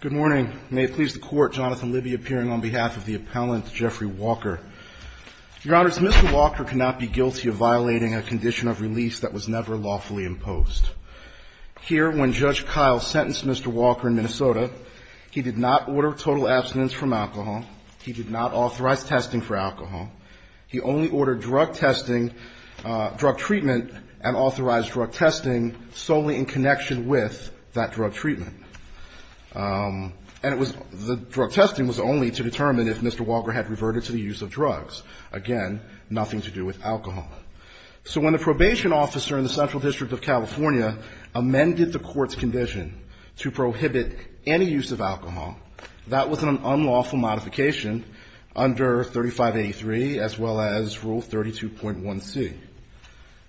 Good morning. May it please the Court, Jonathan Libby appearing on behalf of the Appellant Jeffrey Walker. Your Honors, Mr. Walker cannot be guilty of violating a condition of release that was never lawfully imposed. Here, when Judge Kyle sentenced Mr. Walker in Minnesota, he did not order total abstinence from alcohol. He did not authorize testing for alcohol. He only ordered drug testing, drug treatment, and authorized drug testing solely in connection with that drug treatment. And it was the drug testing was only to determine if Mr. Walker had reverted to the use of drugs. Again, nothing to do with alcohol. So when the probation officer in the Central District of California amended the Court's condition to prohibit any use of alcohol, that was an unlawful modification under 3583 as well as Rule 32.1c.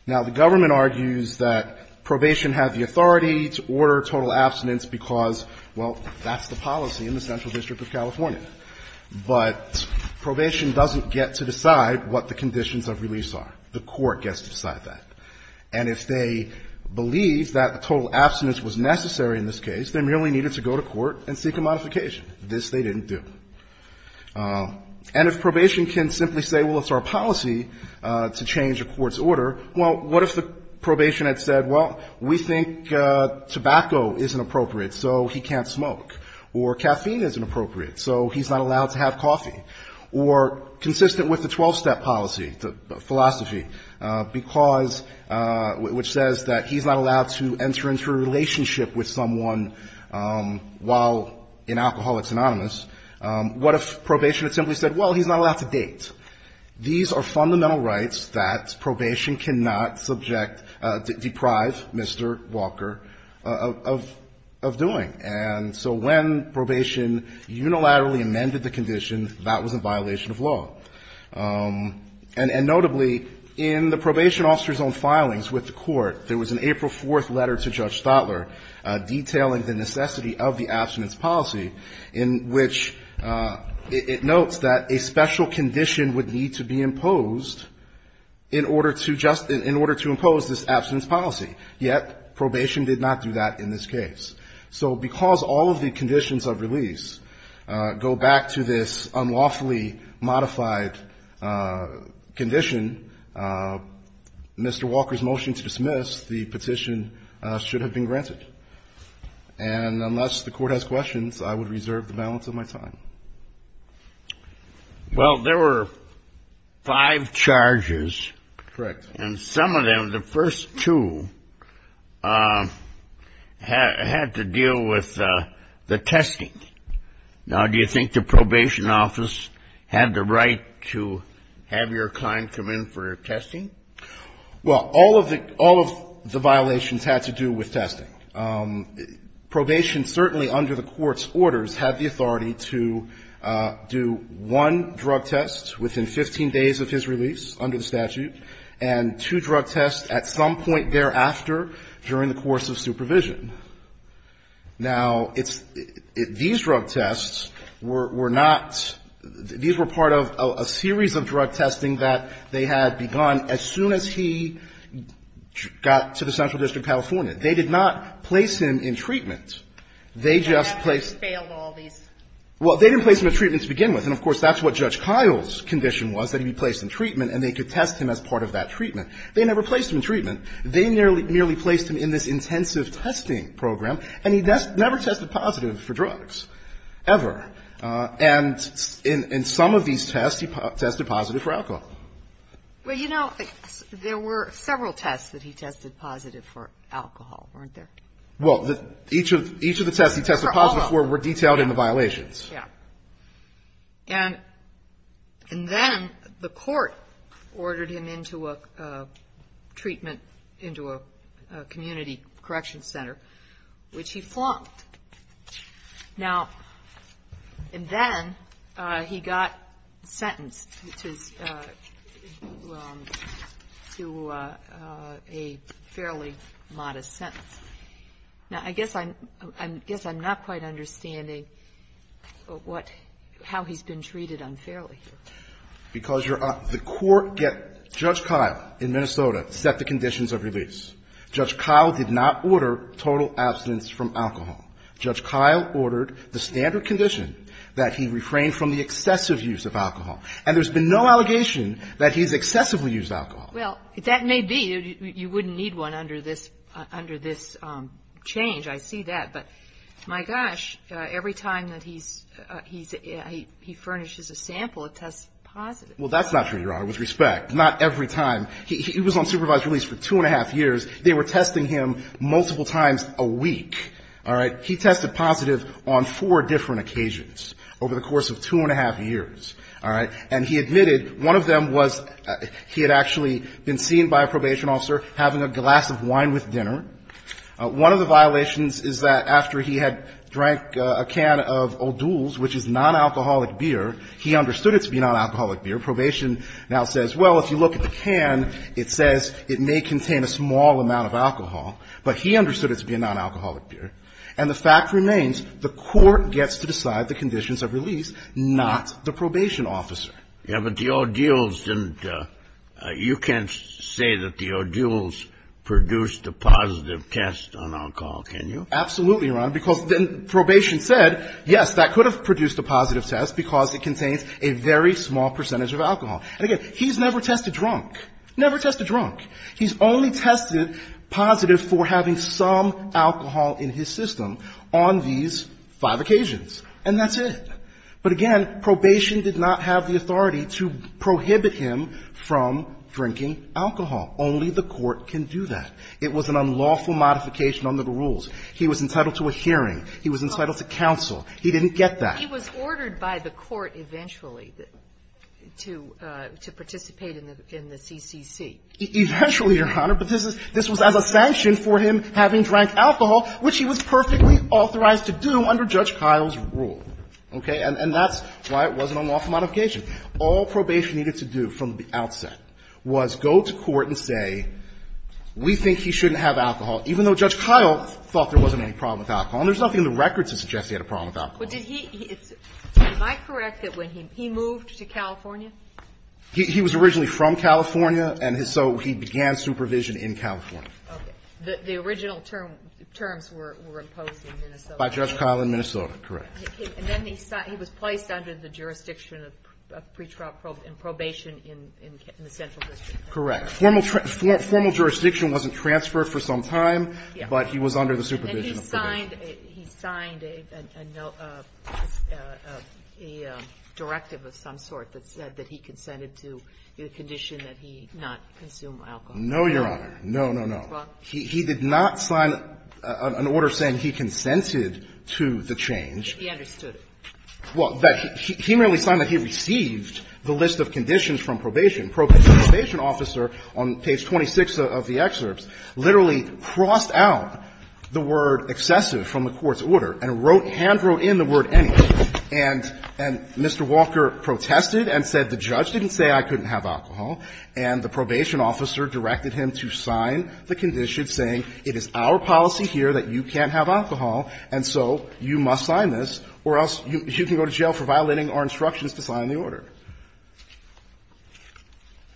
Now, the government argues that probation have the authority to order total abstinence because, well, that's the policy in the Central District of California. But probation doesn't get to decide what the conditions of release are. The Court gets to decide that. And if they believe that total abstinence was necessary in this case, they merely needed to go to court and seek a modification. This they didn't do. And if probation can simply say, well, it's our policy to change a court's order, well, what if the probation had said, well, we think tobacco isn't appropriate, so he can't smoke, or caffeine isn't appropriate, so he's not allowed to have coffee, or consistent with the 12-step policy, the philosophy, because — which says that he's not allowed to enter into a relationship with someone while in Alcoholics Anonymous, what if probation had simply said, well, he's not allowed to date. These are fundamental rights that probation cannot subject — deprive Mr. Walker of doing. And so when probation unilaterally amended the condition, that was a violation of law. And notably, in the probation officer's own filings with the Court, there was an April 4th letter to Judge Stotler detailing the necessity of the abstinence policy, in which it notes that a special condition would need to be imposed in order to just — in order to impose this abstinence policy. Yet probation did not do that in this case. So because all of the conditions of release go back to this unlawfully modified condition, Mr. Walker's motion to dismiss the petition should have been granted. And unless the Court has questions, I would reserve the balance of my time. Well, there were five charges. Correct. And some of them, the first two, had to deal with the testing. Now, do you think the probation office had the right to have your kind come in for testing? Well, all of the — all of the violations had to do with testing. Probation certainly, under the Court's orders, had the authority to do one drug test within 15 days of his release under the statute, and two drug tests at some point thereafter during the course of supervision. Now, it's — these drug tests were — were not — these were part of a series of drug testing that they had begun as soon as he got to the Central District of California. They did not place him in treatment. They just placed — They failed all these. Well, they didn't place him in treatment to begin with. And, of course, that's what Judge Kyle's condition was, that he be placed in treatment, They never placed him in treatment. They merely placed him in this intensive testing program. And he never tested positive for drugs, ever. And in some of these tests, he tested positive for alcohol. Well, you know, there were several tests that he tested positive for alcohol, weren't there? Well, each of the tests he tested positive for were detailed in the violations. And then the court ordered him into a treatment, into a community correction center, which he flunked. Now, and then he got sentenced to a fairly modest sentence. Now, I guess I'm — I guess I'm not quite understanding what — how he's been treated unfairly. Because you're — the court get — Judge Kyle in Minnesota set the conditions of release. Judge Kyle did not order total abstinence from alcohol. Judge Kyle ordered the standard condition that he refrain from the excessive use of alcohol. And there's been no allegation that he's excessively used alcohol. Well, that may be. You wouldn't need one under this — under this change. I see that. But my gosh, every time that he's — he furnishes a sample, it tests positive. Well, that's not true, Your Honor, with respect. Not every time. He was on supervised release for two and a half years. They were testing him multiple times a week. All right? All right? And he admitted one of them was he had actually been seen by a probation officer having a glass of wine with dinner. One of the violations is that after he had drank a can of O'Doul's, which is non-alcoholic beer, he understood it to be non-alcoholic beer. Probation now says, well, if you look at the can, it says it may contain a small amount of alcohol. But he understood it to be a non-alcoholic beer. And the fact remains the court gets to decide the conditions of release, not the probation officer. Yeah, but the O'Doul's didn't — you can't say that the O'Doul's produced a positive test on alcohol, can you? Absolutely, Your Honor, because then probation said, yes, that could have produced a positive test because it contains a very small percentage of alcohol. And, again, he's never tested drunk. Never tested drunk. He's only tested positive for having some alcohol in his system on these five occasions. And that's it. But, again, probation did not have the authority to prohibit him from drinking alcohol. Only the court can do that. It was an unlawful modification under the rules. He was entitled to a hearing. He was entitled to counsel. He didn't get that. He was ordered by the court eventually to participate in the CCC. Eventually, Your Honor, but this was as a sanction for him having drank alcohol, which he was perfectly authorized to do under Judge Kyle's rule. Okay? And that's why it was an unlawful modification. All probation needed to do from the outset was go to court and say, we think he shouldn't have alcohol, even though Judge Kyle thought there wasn't any problem with alcohol. And there's nothing in the record to suggest he had a problem with alcohol. But did he — am I correct that when he moved to California? He was originally from California, and so he began supervision in California. Okay. The original terms were imposed in Minnesota. By Judge Kyle in Minnesota. And then he was placed under the jurisdiction of pretrial probation in the central district. Correct. Formal jurisdiction wasn't transferred for some time, but he was under the supervision of probation. And he signed a directive of some sort that said that he consented to the condition that he not consume alcohol. No, Your Honor. No, no, no. He did not sign an order saying he consented to the change. He understood it. Well, he merely signed that he received the list of conditions from probation. The probation officer, on page 26 of the excerpts, literally crossed out the word excessive from the court's order and wrote — handwrote in the word anything. And Mr. Walker protested and said the judge didn't say I couldn't have alcohol, and the probation officer directed him to sign the condition saying it is our policy here that you can't have alcohol, and so you must sign this, or else you can go to jail for violating our instructions to sign the order.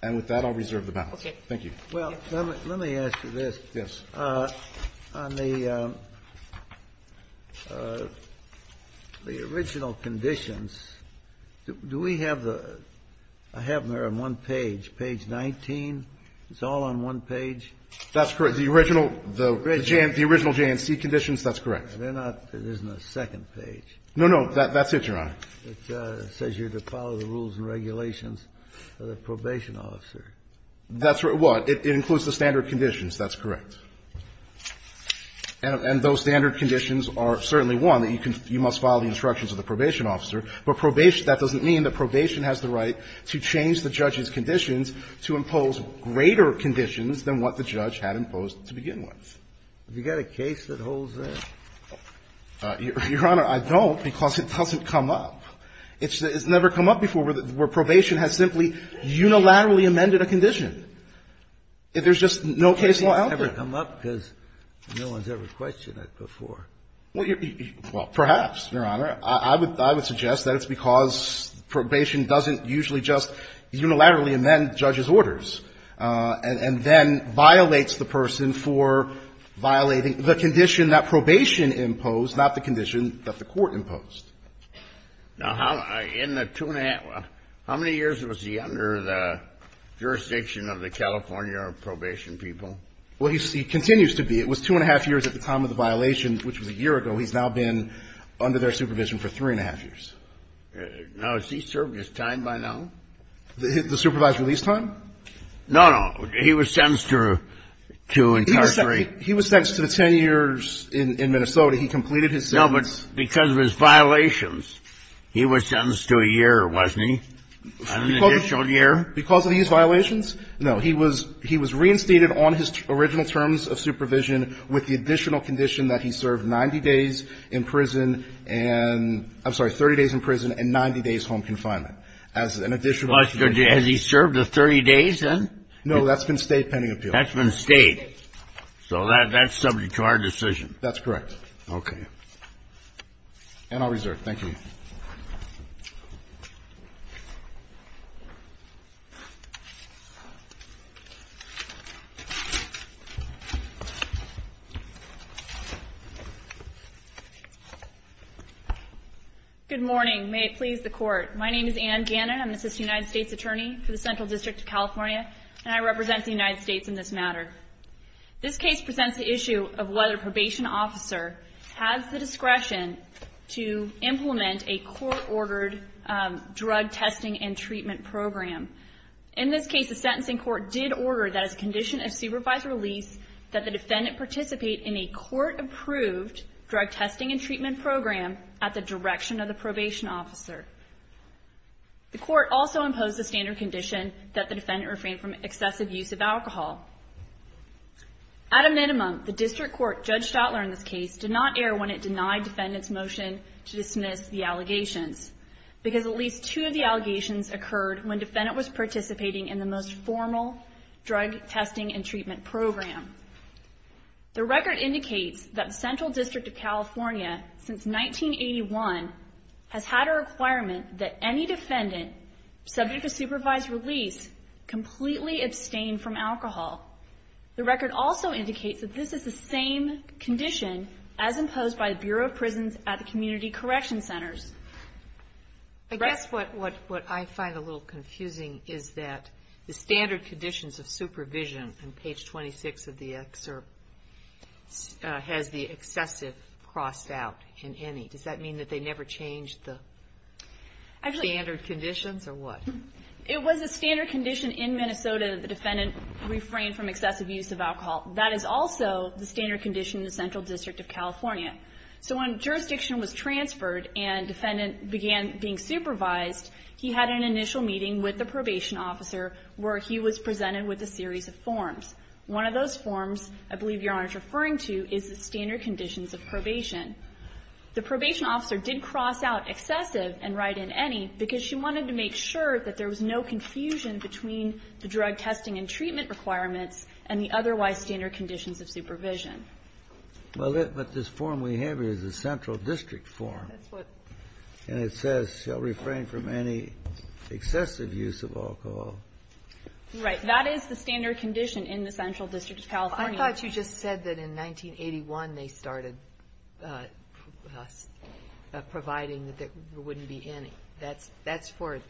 And with that, I'll reserve the balance. Okay. Thank you. Well, let me ask you this. Yes. On the original conditions, do we have the — I have them here on one page, page 19. It's all on one page? That's correct. The original — the original J&C conditions, that's correct. They're not — there's no second page. No, no. That's it, Your Honor. It says you're to follow the rules and regulations of the probation officer. That's what? It includes the standard conditions. That's correct. And those standard conditions are certainly one, that you can — you must follow the instructions of the probation officer. But probation — that doesn't mean that probation has the right to change the judge's to begin with. Have you got a case that holds that? Your Honor, I don't, because it doesn't come up. It's never come up before where probation has simply unilaterally amended a condition. There's just no case law out there. It's never come up because no one's ever questioned it before. Well, perhaps, Your Honor. I would suggest that it's because probation doesn't usually just unilaterally amend judges' orders and then violates the person for violating the condition that probation imposed, not the condition that the court imposed. Now, in the two-and-a-half — how many years was he under the jurisdiction of the California probation people? Well, he continues to be. It was two-and-a-half years at the time of the violation, which was a year ago. He's now been under their supervision for three-and-a-half years. Now, has he served his time by now? The supervised release time? No, no. He was sentenced to incarceration. He was sentenced to 10 years in Minnesota. He completed his sentence. No, but because of his violations, he was sentenced to a year, wasn't he? An additional year? Because of his violations? No. He was reinstated on his original terms of supervision with the additional condition that he served 90 days in prison and — I'm sorry, 30 days in prison and 90 days home confinement as an additional — Has he served the 30 days, then? No, that's been stayed pending appeal. That's been stayed. So that's subject to our decision. That's correct. Okay. And I'll reserve. Thank you. Good morning. May it please the Court. My name is Anne Gannon. I'm an assistant United States attorney for the Central District of California, and I represent the United States in this matter. This case presents the issue of whether a probation officer has the discretion to implement a court-ordered drug testing and treatment program. In this case, the sentencing court did order that as a condition of supervised release that the defendant participate in a court-approved drug testing and treatment program at the direction of the probation officer. The court also imposed the standard condition that the defendant refrain from excessive use of alcohol. At a minimum, the district court, Judge Stotler in this case, did not err when it denied defendant's motion to dismiss the allegations because at least two of the allegations occurred when defendant was participating in the most formal drug testing and treatment program. The record indicates that the Central District of California, since 1981, has had a requirement that any defendant subject to supervised release completely abstain from alcohol. The record also indicates that this is the same condition as imposed by the Bureau of Prisons at the community correction centers. I guess what I find a little confusing is that the standard conditions of supervision on page 26 of the excerpt has the excessive crossed out in any. Does that mean that they never changed the standard conditions, or what? It was a standard condition in Minnesota that the defendant refrained from excessive use of alcohol. That is also the standard condition in the Central District of California. So when jurisdiction was transferred and defendant began being supervised, he had an initial meeting with the probation officer where he was presented with a series of forms. One of those forms, I believe Your Honor is referring to, is the standard conditions of probation. The probation officer did cross out excessive and write in any because she wanted to make sure that there was no confusion between the drug testing and treatment requirements and the otherwise standard conditions of supervision. Well, but this form we have here is the Central District form. And it says shall refrain from any excessive use of alcohol. Right. That is the standard condition in the Central District of California. I thought you just said that in 1981 they started providing that there wouldn't be any. That's for it.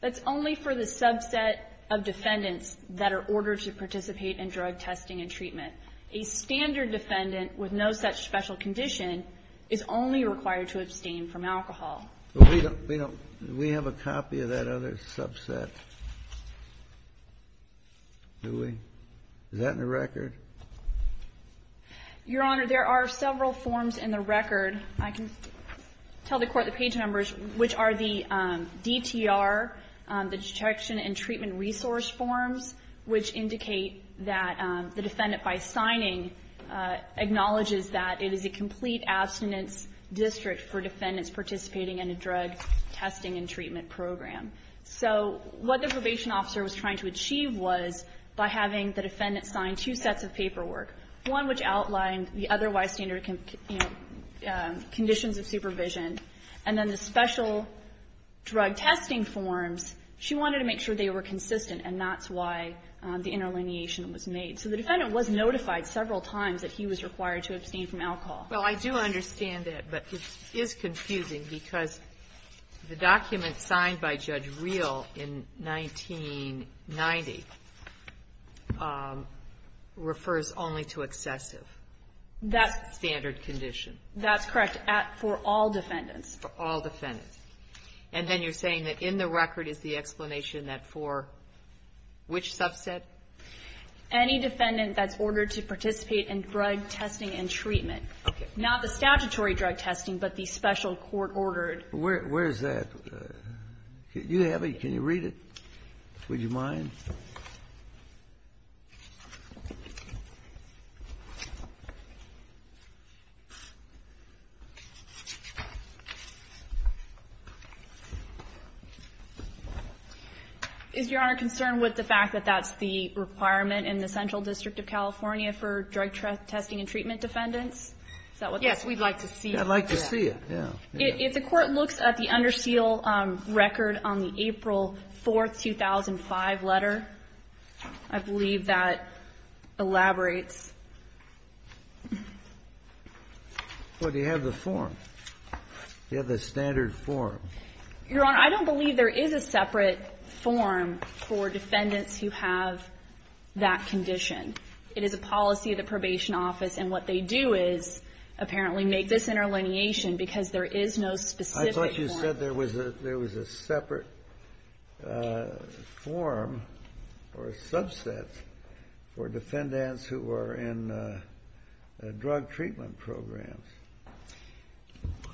That's only for the subset of defendants that are ordered to participate in drug testing and treatment. A standard defendant with no such special condition is only required to abstain from alcohol. But we don't we have a copy of that other subset, do we? Is that in the record? Your Honor, there are several forms in the record. I can tell the Court the page numbers, which are the DTR, the detection and treatment resource forms, which indicate that the defendant by signing acknowledges that it is a complete abstinence district for defendants participating in a drug testing and treatment program. So what the probation officer was trying to achieve was by having the defendant sign two sets of paperwork, one which outlined the otherwise standard conditions of supervision, and then the special drug testing forms, she wanted to make sure they were consistent, and that's why the interlineation was made. So the defendant was notified several times that he was required to abstain from alcohol. Well, I do understand that, but it is confusing because the document signed by Judge only to excessive standard condition. That's correct, for all defendants. For all defendants. And then you're saying that in the record is the explanation that for which subset? Any defendant that's ordered to participate in drug testing and treatment. Okay. Not the statutory drug testing, but the special court-ordered. Where is that? Do you have it? Can you read it? Would you mind? Is Your Honor concerned with the fact that that's the requirement in the Central District of California for drug testing and treatment defendants? Is that what that is? Yes, we'd like to see it. I'd like to see it, yeah. If the Court looks at the under seal record on the April 4, 2005 letter, I believe that elaborates. Well, do you have the form? Do you have the standard form? Your Honor, I don't believe there is a separate form for defendants who have that condition. It is a policy of the Probation Office, and what they do is apparently make this a matter of lineation, because there is no specific form. I thought you said there was a separate form or subset for defendants who are in drug treatment programs.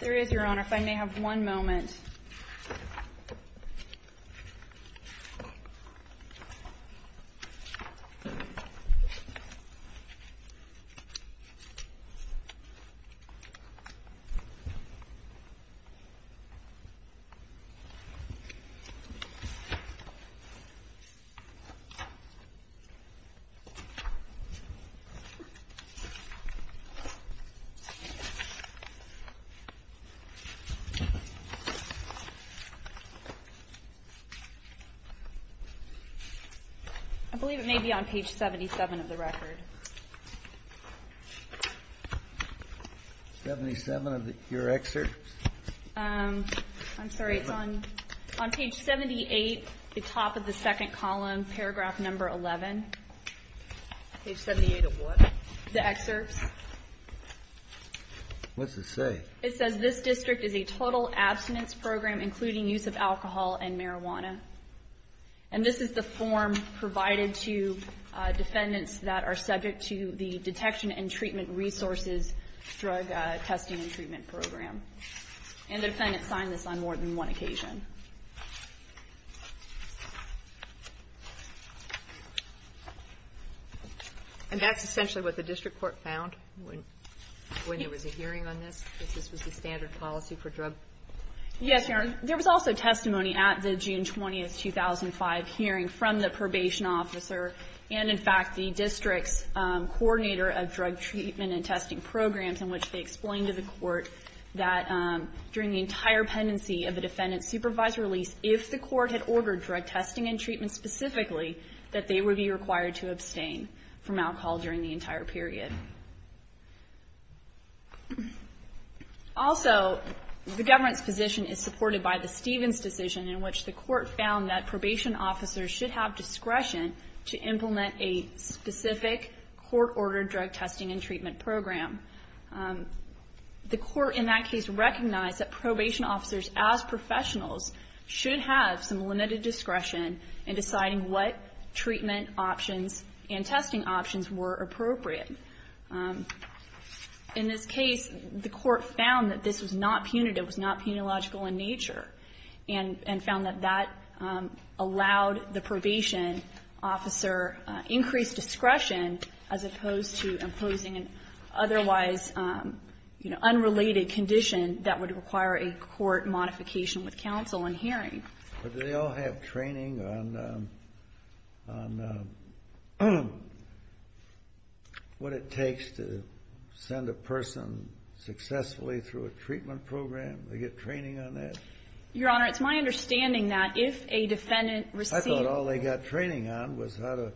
There is, Your Honor. If I may have one moment. Thank you. I believe it may be on page 77 of the record. Seventy-seven of your excerpts? I'm sorry. It's on page 78, the top of the second column, paragraph number 11. Page 78 of what? The excerpts. What's it say? It says this district is a total abstinence program, including use of alcohol and marijuana. And this is the form provided to defendants that are subject to the detection and treatment resources drug testing and treatment program. And the defendants signed this on more than one occasion. And that's essentially what the district court found when there was a hearing on this, because this was the standard policy for drug testing. Yes, Your Honor. There was also testimony at the June 20, 2005 hearing from the probation officer and, in fact, the district's coordinator of drug treatment and testing programs in which they explained to the court that during the entire pendency of a defendant's supervisory release, if the court had ordered drug testing and treatment specifically, that they would be required to abstain from alcohol during the entire period. Also, the government's position is supported by the Stevens decision in which the court found that probation officers should have discretion to implement a specific court-ordered drug testing and treatment program. The court in that case recognized that probation officers as professionals should have some limited discretion in deciding what treatment options and procedures were appropriate. In this case, the court found that this was not punitive, was not punilogical in nature, and found that that allowed the probation officer increased discretion as opposed to imposing an otherwise unrelated condition that would require a court modification with counsel in hearing. But do they all have training on what it takes to send a person successfully through a treatment program? Do they get training on that? Your Honor, it's my understanding that if a defendant received I thought all they got training on was how to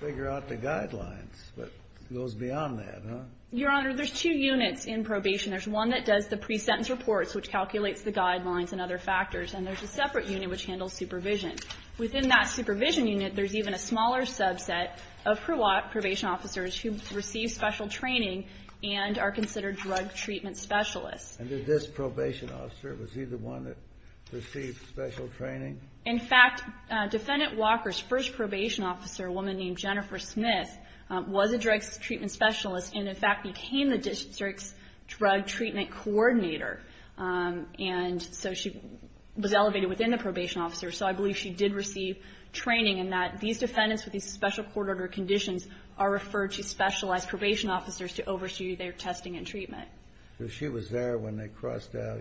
figure out the guidelines, but it goes beyond that, huh? Your Honor, there's two units in probation. There's one that does the pre-sentence reports, which calculates the guidelines and other factors, and there's a separate unit which handles supervision. Within that supervision unit, there's even a smaller subset of probation officers who receive special training and are considered drug treatment specialists. And did this probation officer, was he the one that received special training? In fact, Defendant Walker's first probation officer, a woman named Jennifer Smith, was a drug treatment specialist and, in fact, became the district's drug treatment coordinator. And so she was elevated within the probation officer. So I believe she did receive training in that these defendants with these special court-ordered conditions are referred to specialized probation officers to oversee their testing and treatment. So she was there when they crossed out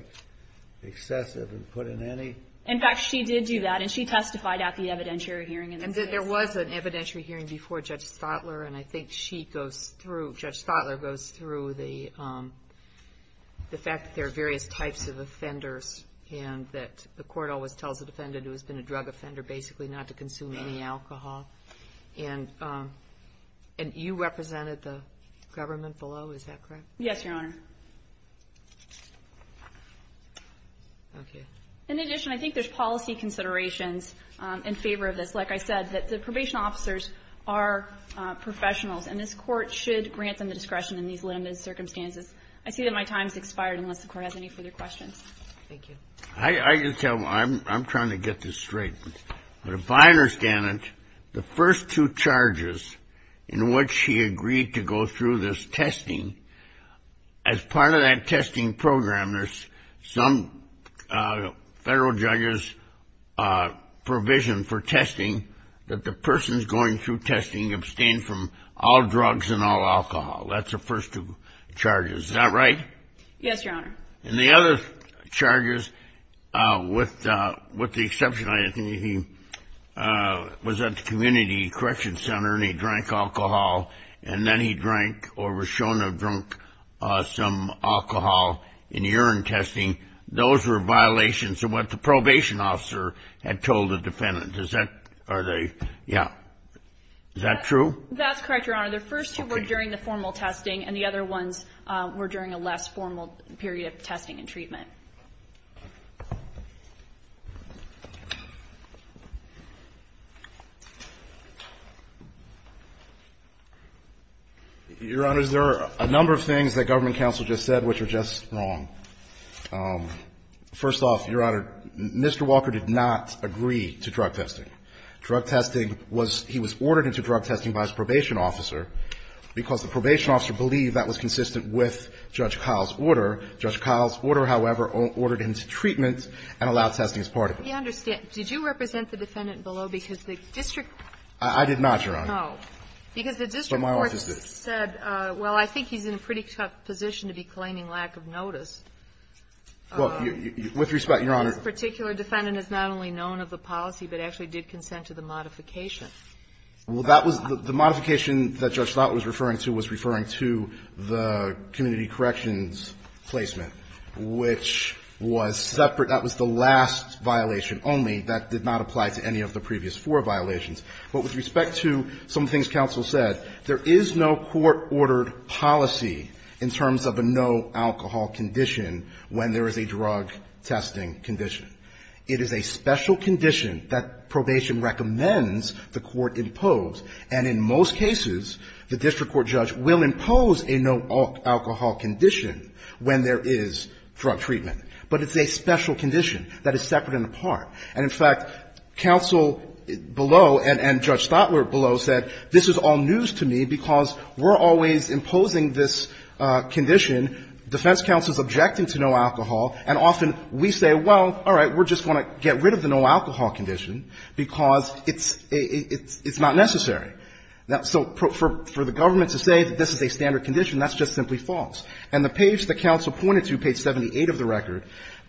excessive and put in any? In fact, she did do that, and she testified at the evidentiary hearing. And there was an evidentiary hearing before Judge Stotler, and I think she goes through, Judge Stotler goes through the fact that there are various types of offenders and that the court always tells the defendant who has been a drug offender basically not to consume any alcohol. And you represented the government below, is that correct? Yes, Your Honor. Okay. In addition, I think there's policy considerations in favor of this. Like I said, the probation officers are professionals, and this court should grant them the discretion in these limited circumstances. I see that my time has expired unless the court has any further questions. Thank you. I can tell you, I'm trying to get this straight, but if I understand it, the first two charges in which she agreed to go through this testing, as part of that testing program, there's some federal judge's provision for testing that the person's going through testing abstain from all drugs and all alcohol. That's the first two charges. Is that right? Yes, Your Honor. And the other charges, with the exception, I think he was at the community correction center and he drank alcohol, and then he drank or was shown to have drunk some alcohol in urine testing. Those were violations of what the probation officer had told the defendant. Is that true? That's correct, Your Honor. The first two were during the formal testing, and the other ones were during a less formal period of testing and treatment. Your Honors, there are a number of things that government counsel just said which are just wrong. First off, Your Honor, Mr. Walker did not agree to drug testing. Drug testing was he was ordered into drug testing by his probation officer because the probation officer believed that was consistent with Judge Kyle's order. Judge Kyle's order, however, ordered him to treatment and allowed testing as part of it. We understand. Did you represent the defendant below because the district court said no? I did not, Your Honor. Because the district court said, well, I think he's in a pretty tough position to be claiming lack of notice. Well, with respect, Your Honor. This particular defendant has not only known of the policy but actually did consent to the modification. Well, that was the modification that Judge Slott was referring to was referring to the community corrections placement, which was separate. That was the last violation only. That did not apply to any of the previous four violations. But with respect to some things counsel said, there is no court-ordered policy in terms of a no-alcohol condition when there is a drug testing condition. It is a special condition that probation recommends the court impose, and in most cases the district court judge will impose a no-alcohol condition when there is drug treatment. But it's a special condition that is separate and apart. And, in fact, counsel below and Judge Stotler below said this is all news to me because we're always imposing this condition, defense counsel is objecting to no alcohol, and often we say, well, all right, we're just going to get rid of the no-alcohol condition because it's not necessary. So for the government to say this is a standard condition, that's just simply false. And the page that counsel pointed to, page 78 of the record,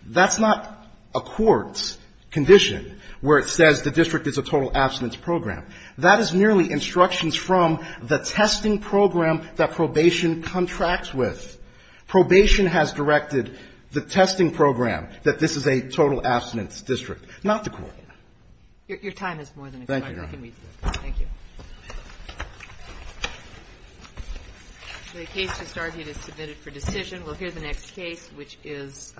that's not a court's condition where it says the district is a total abstinence program. That is merely instructions from the testing program that probation contracts with. Probation has directed the testing program that this is a total abstinence district, not the court. Your time has more than expired. Thank you, Your Honor. I can read that. Thank you. The case just argued is submitted for decision. We'll hear the next case, which is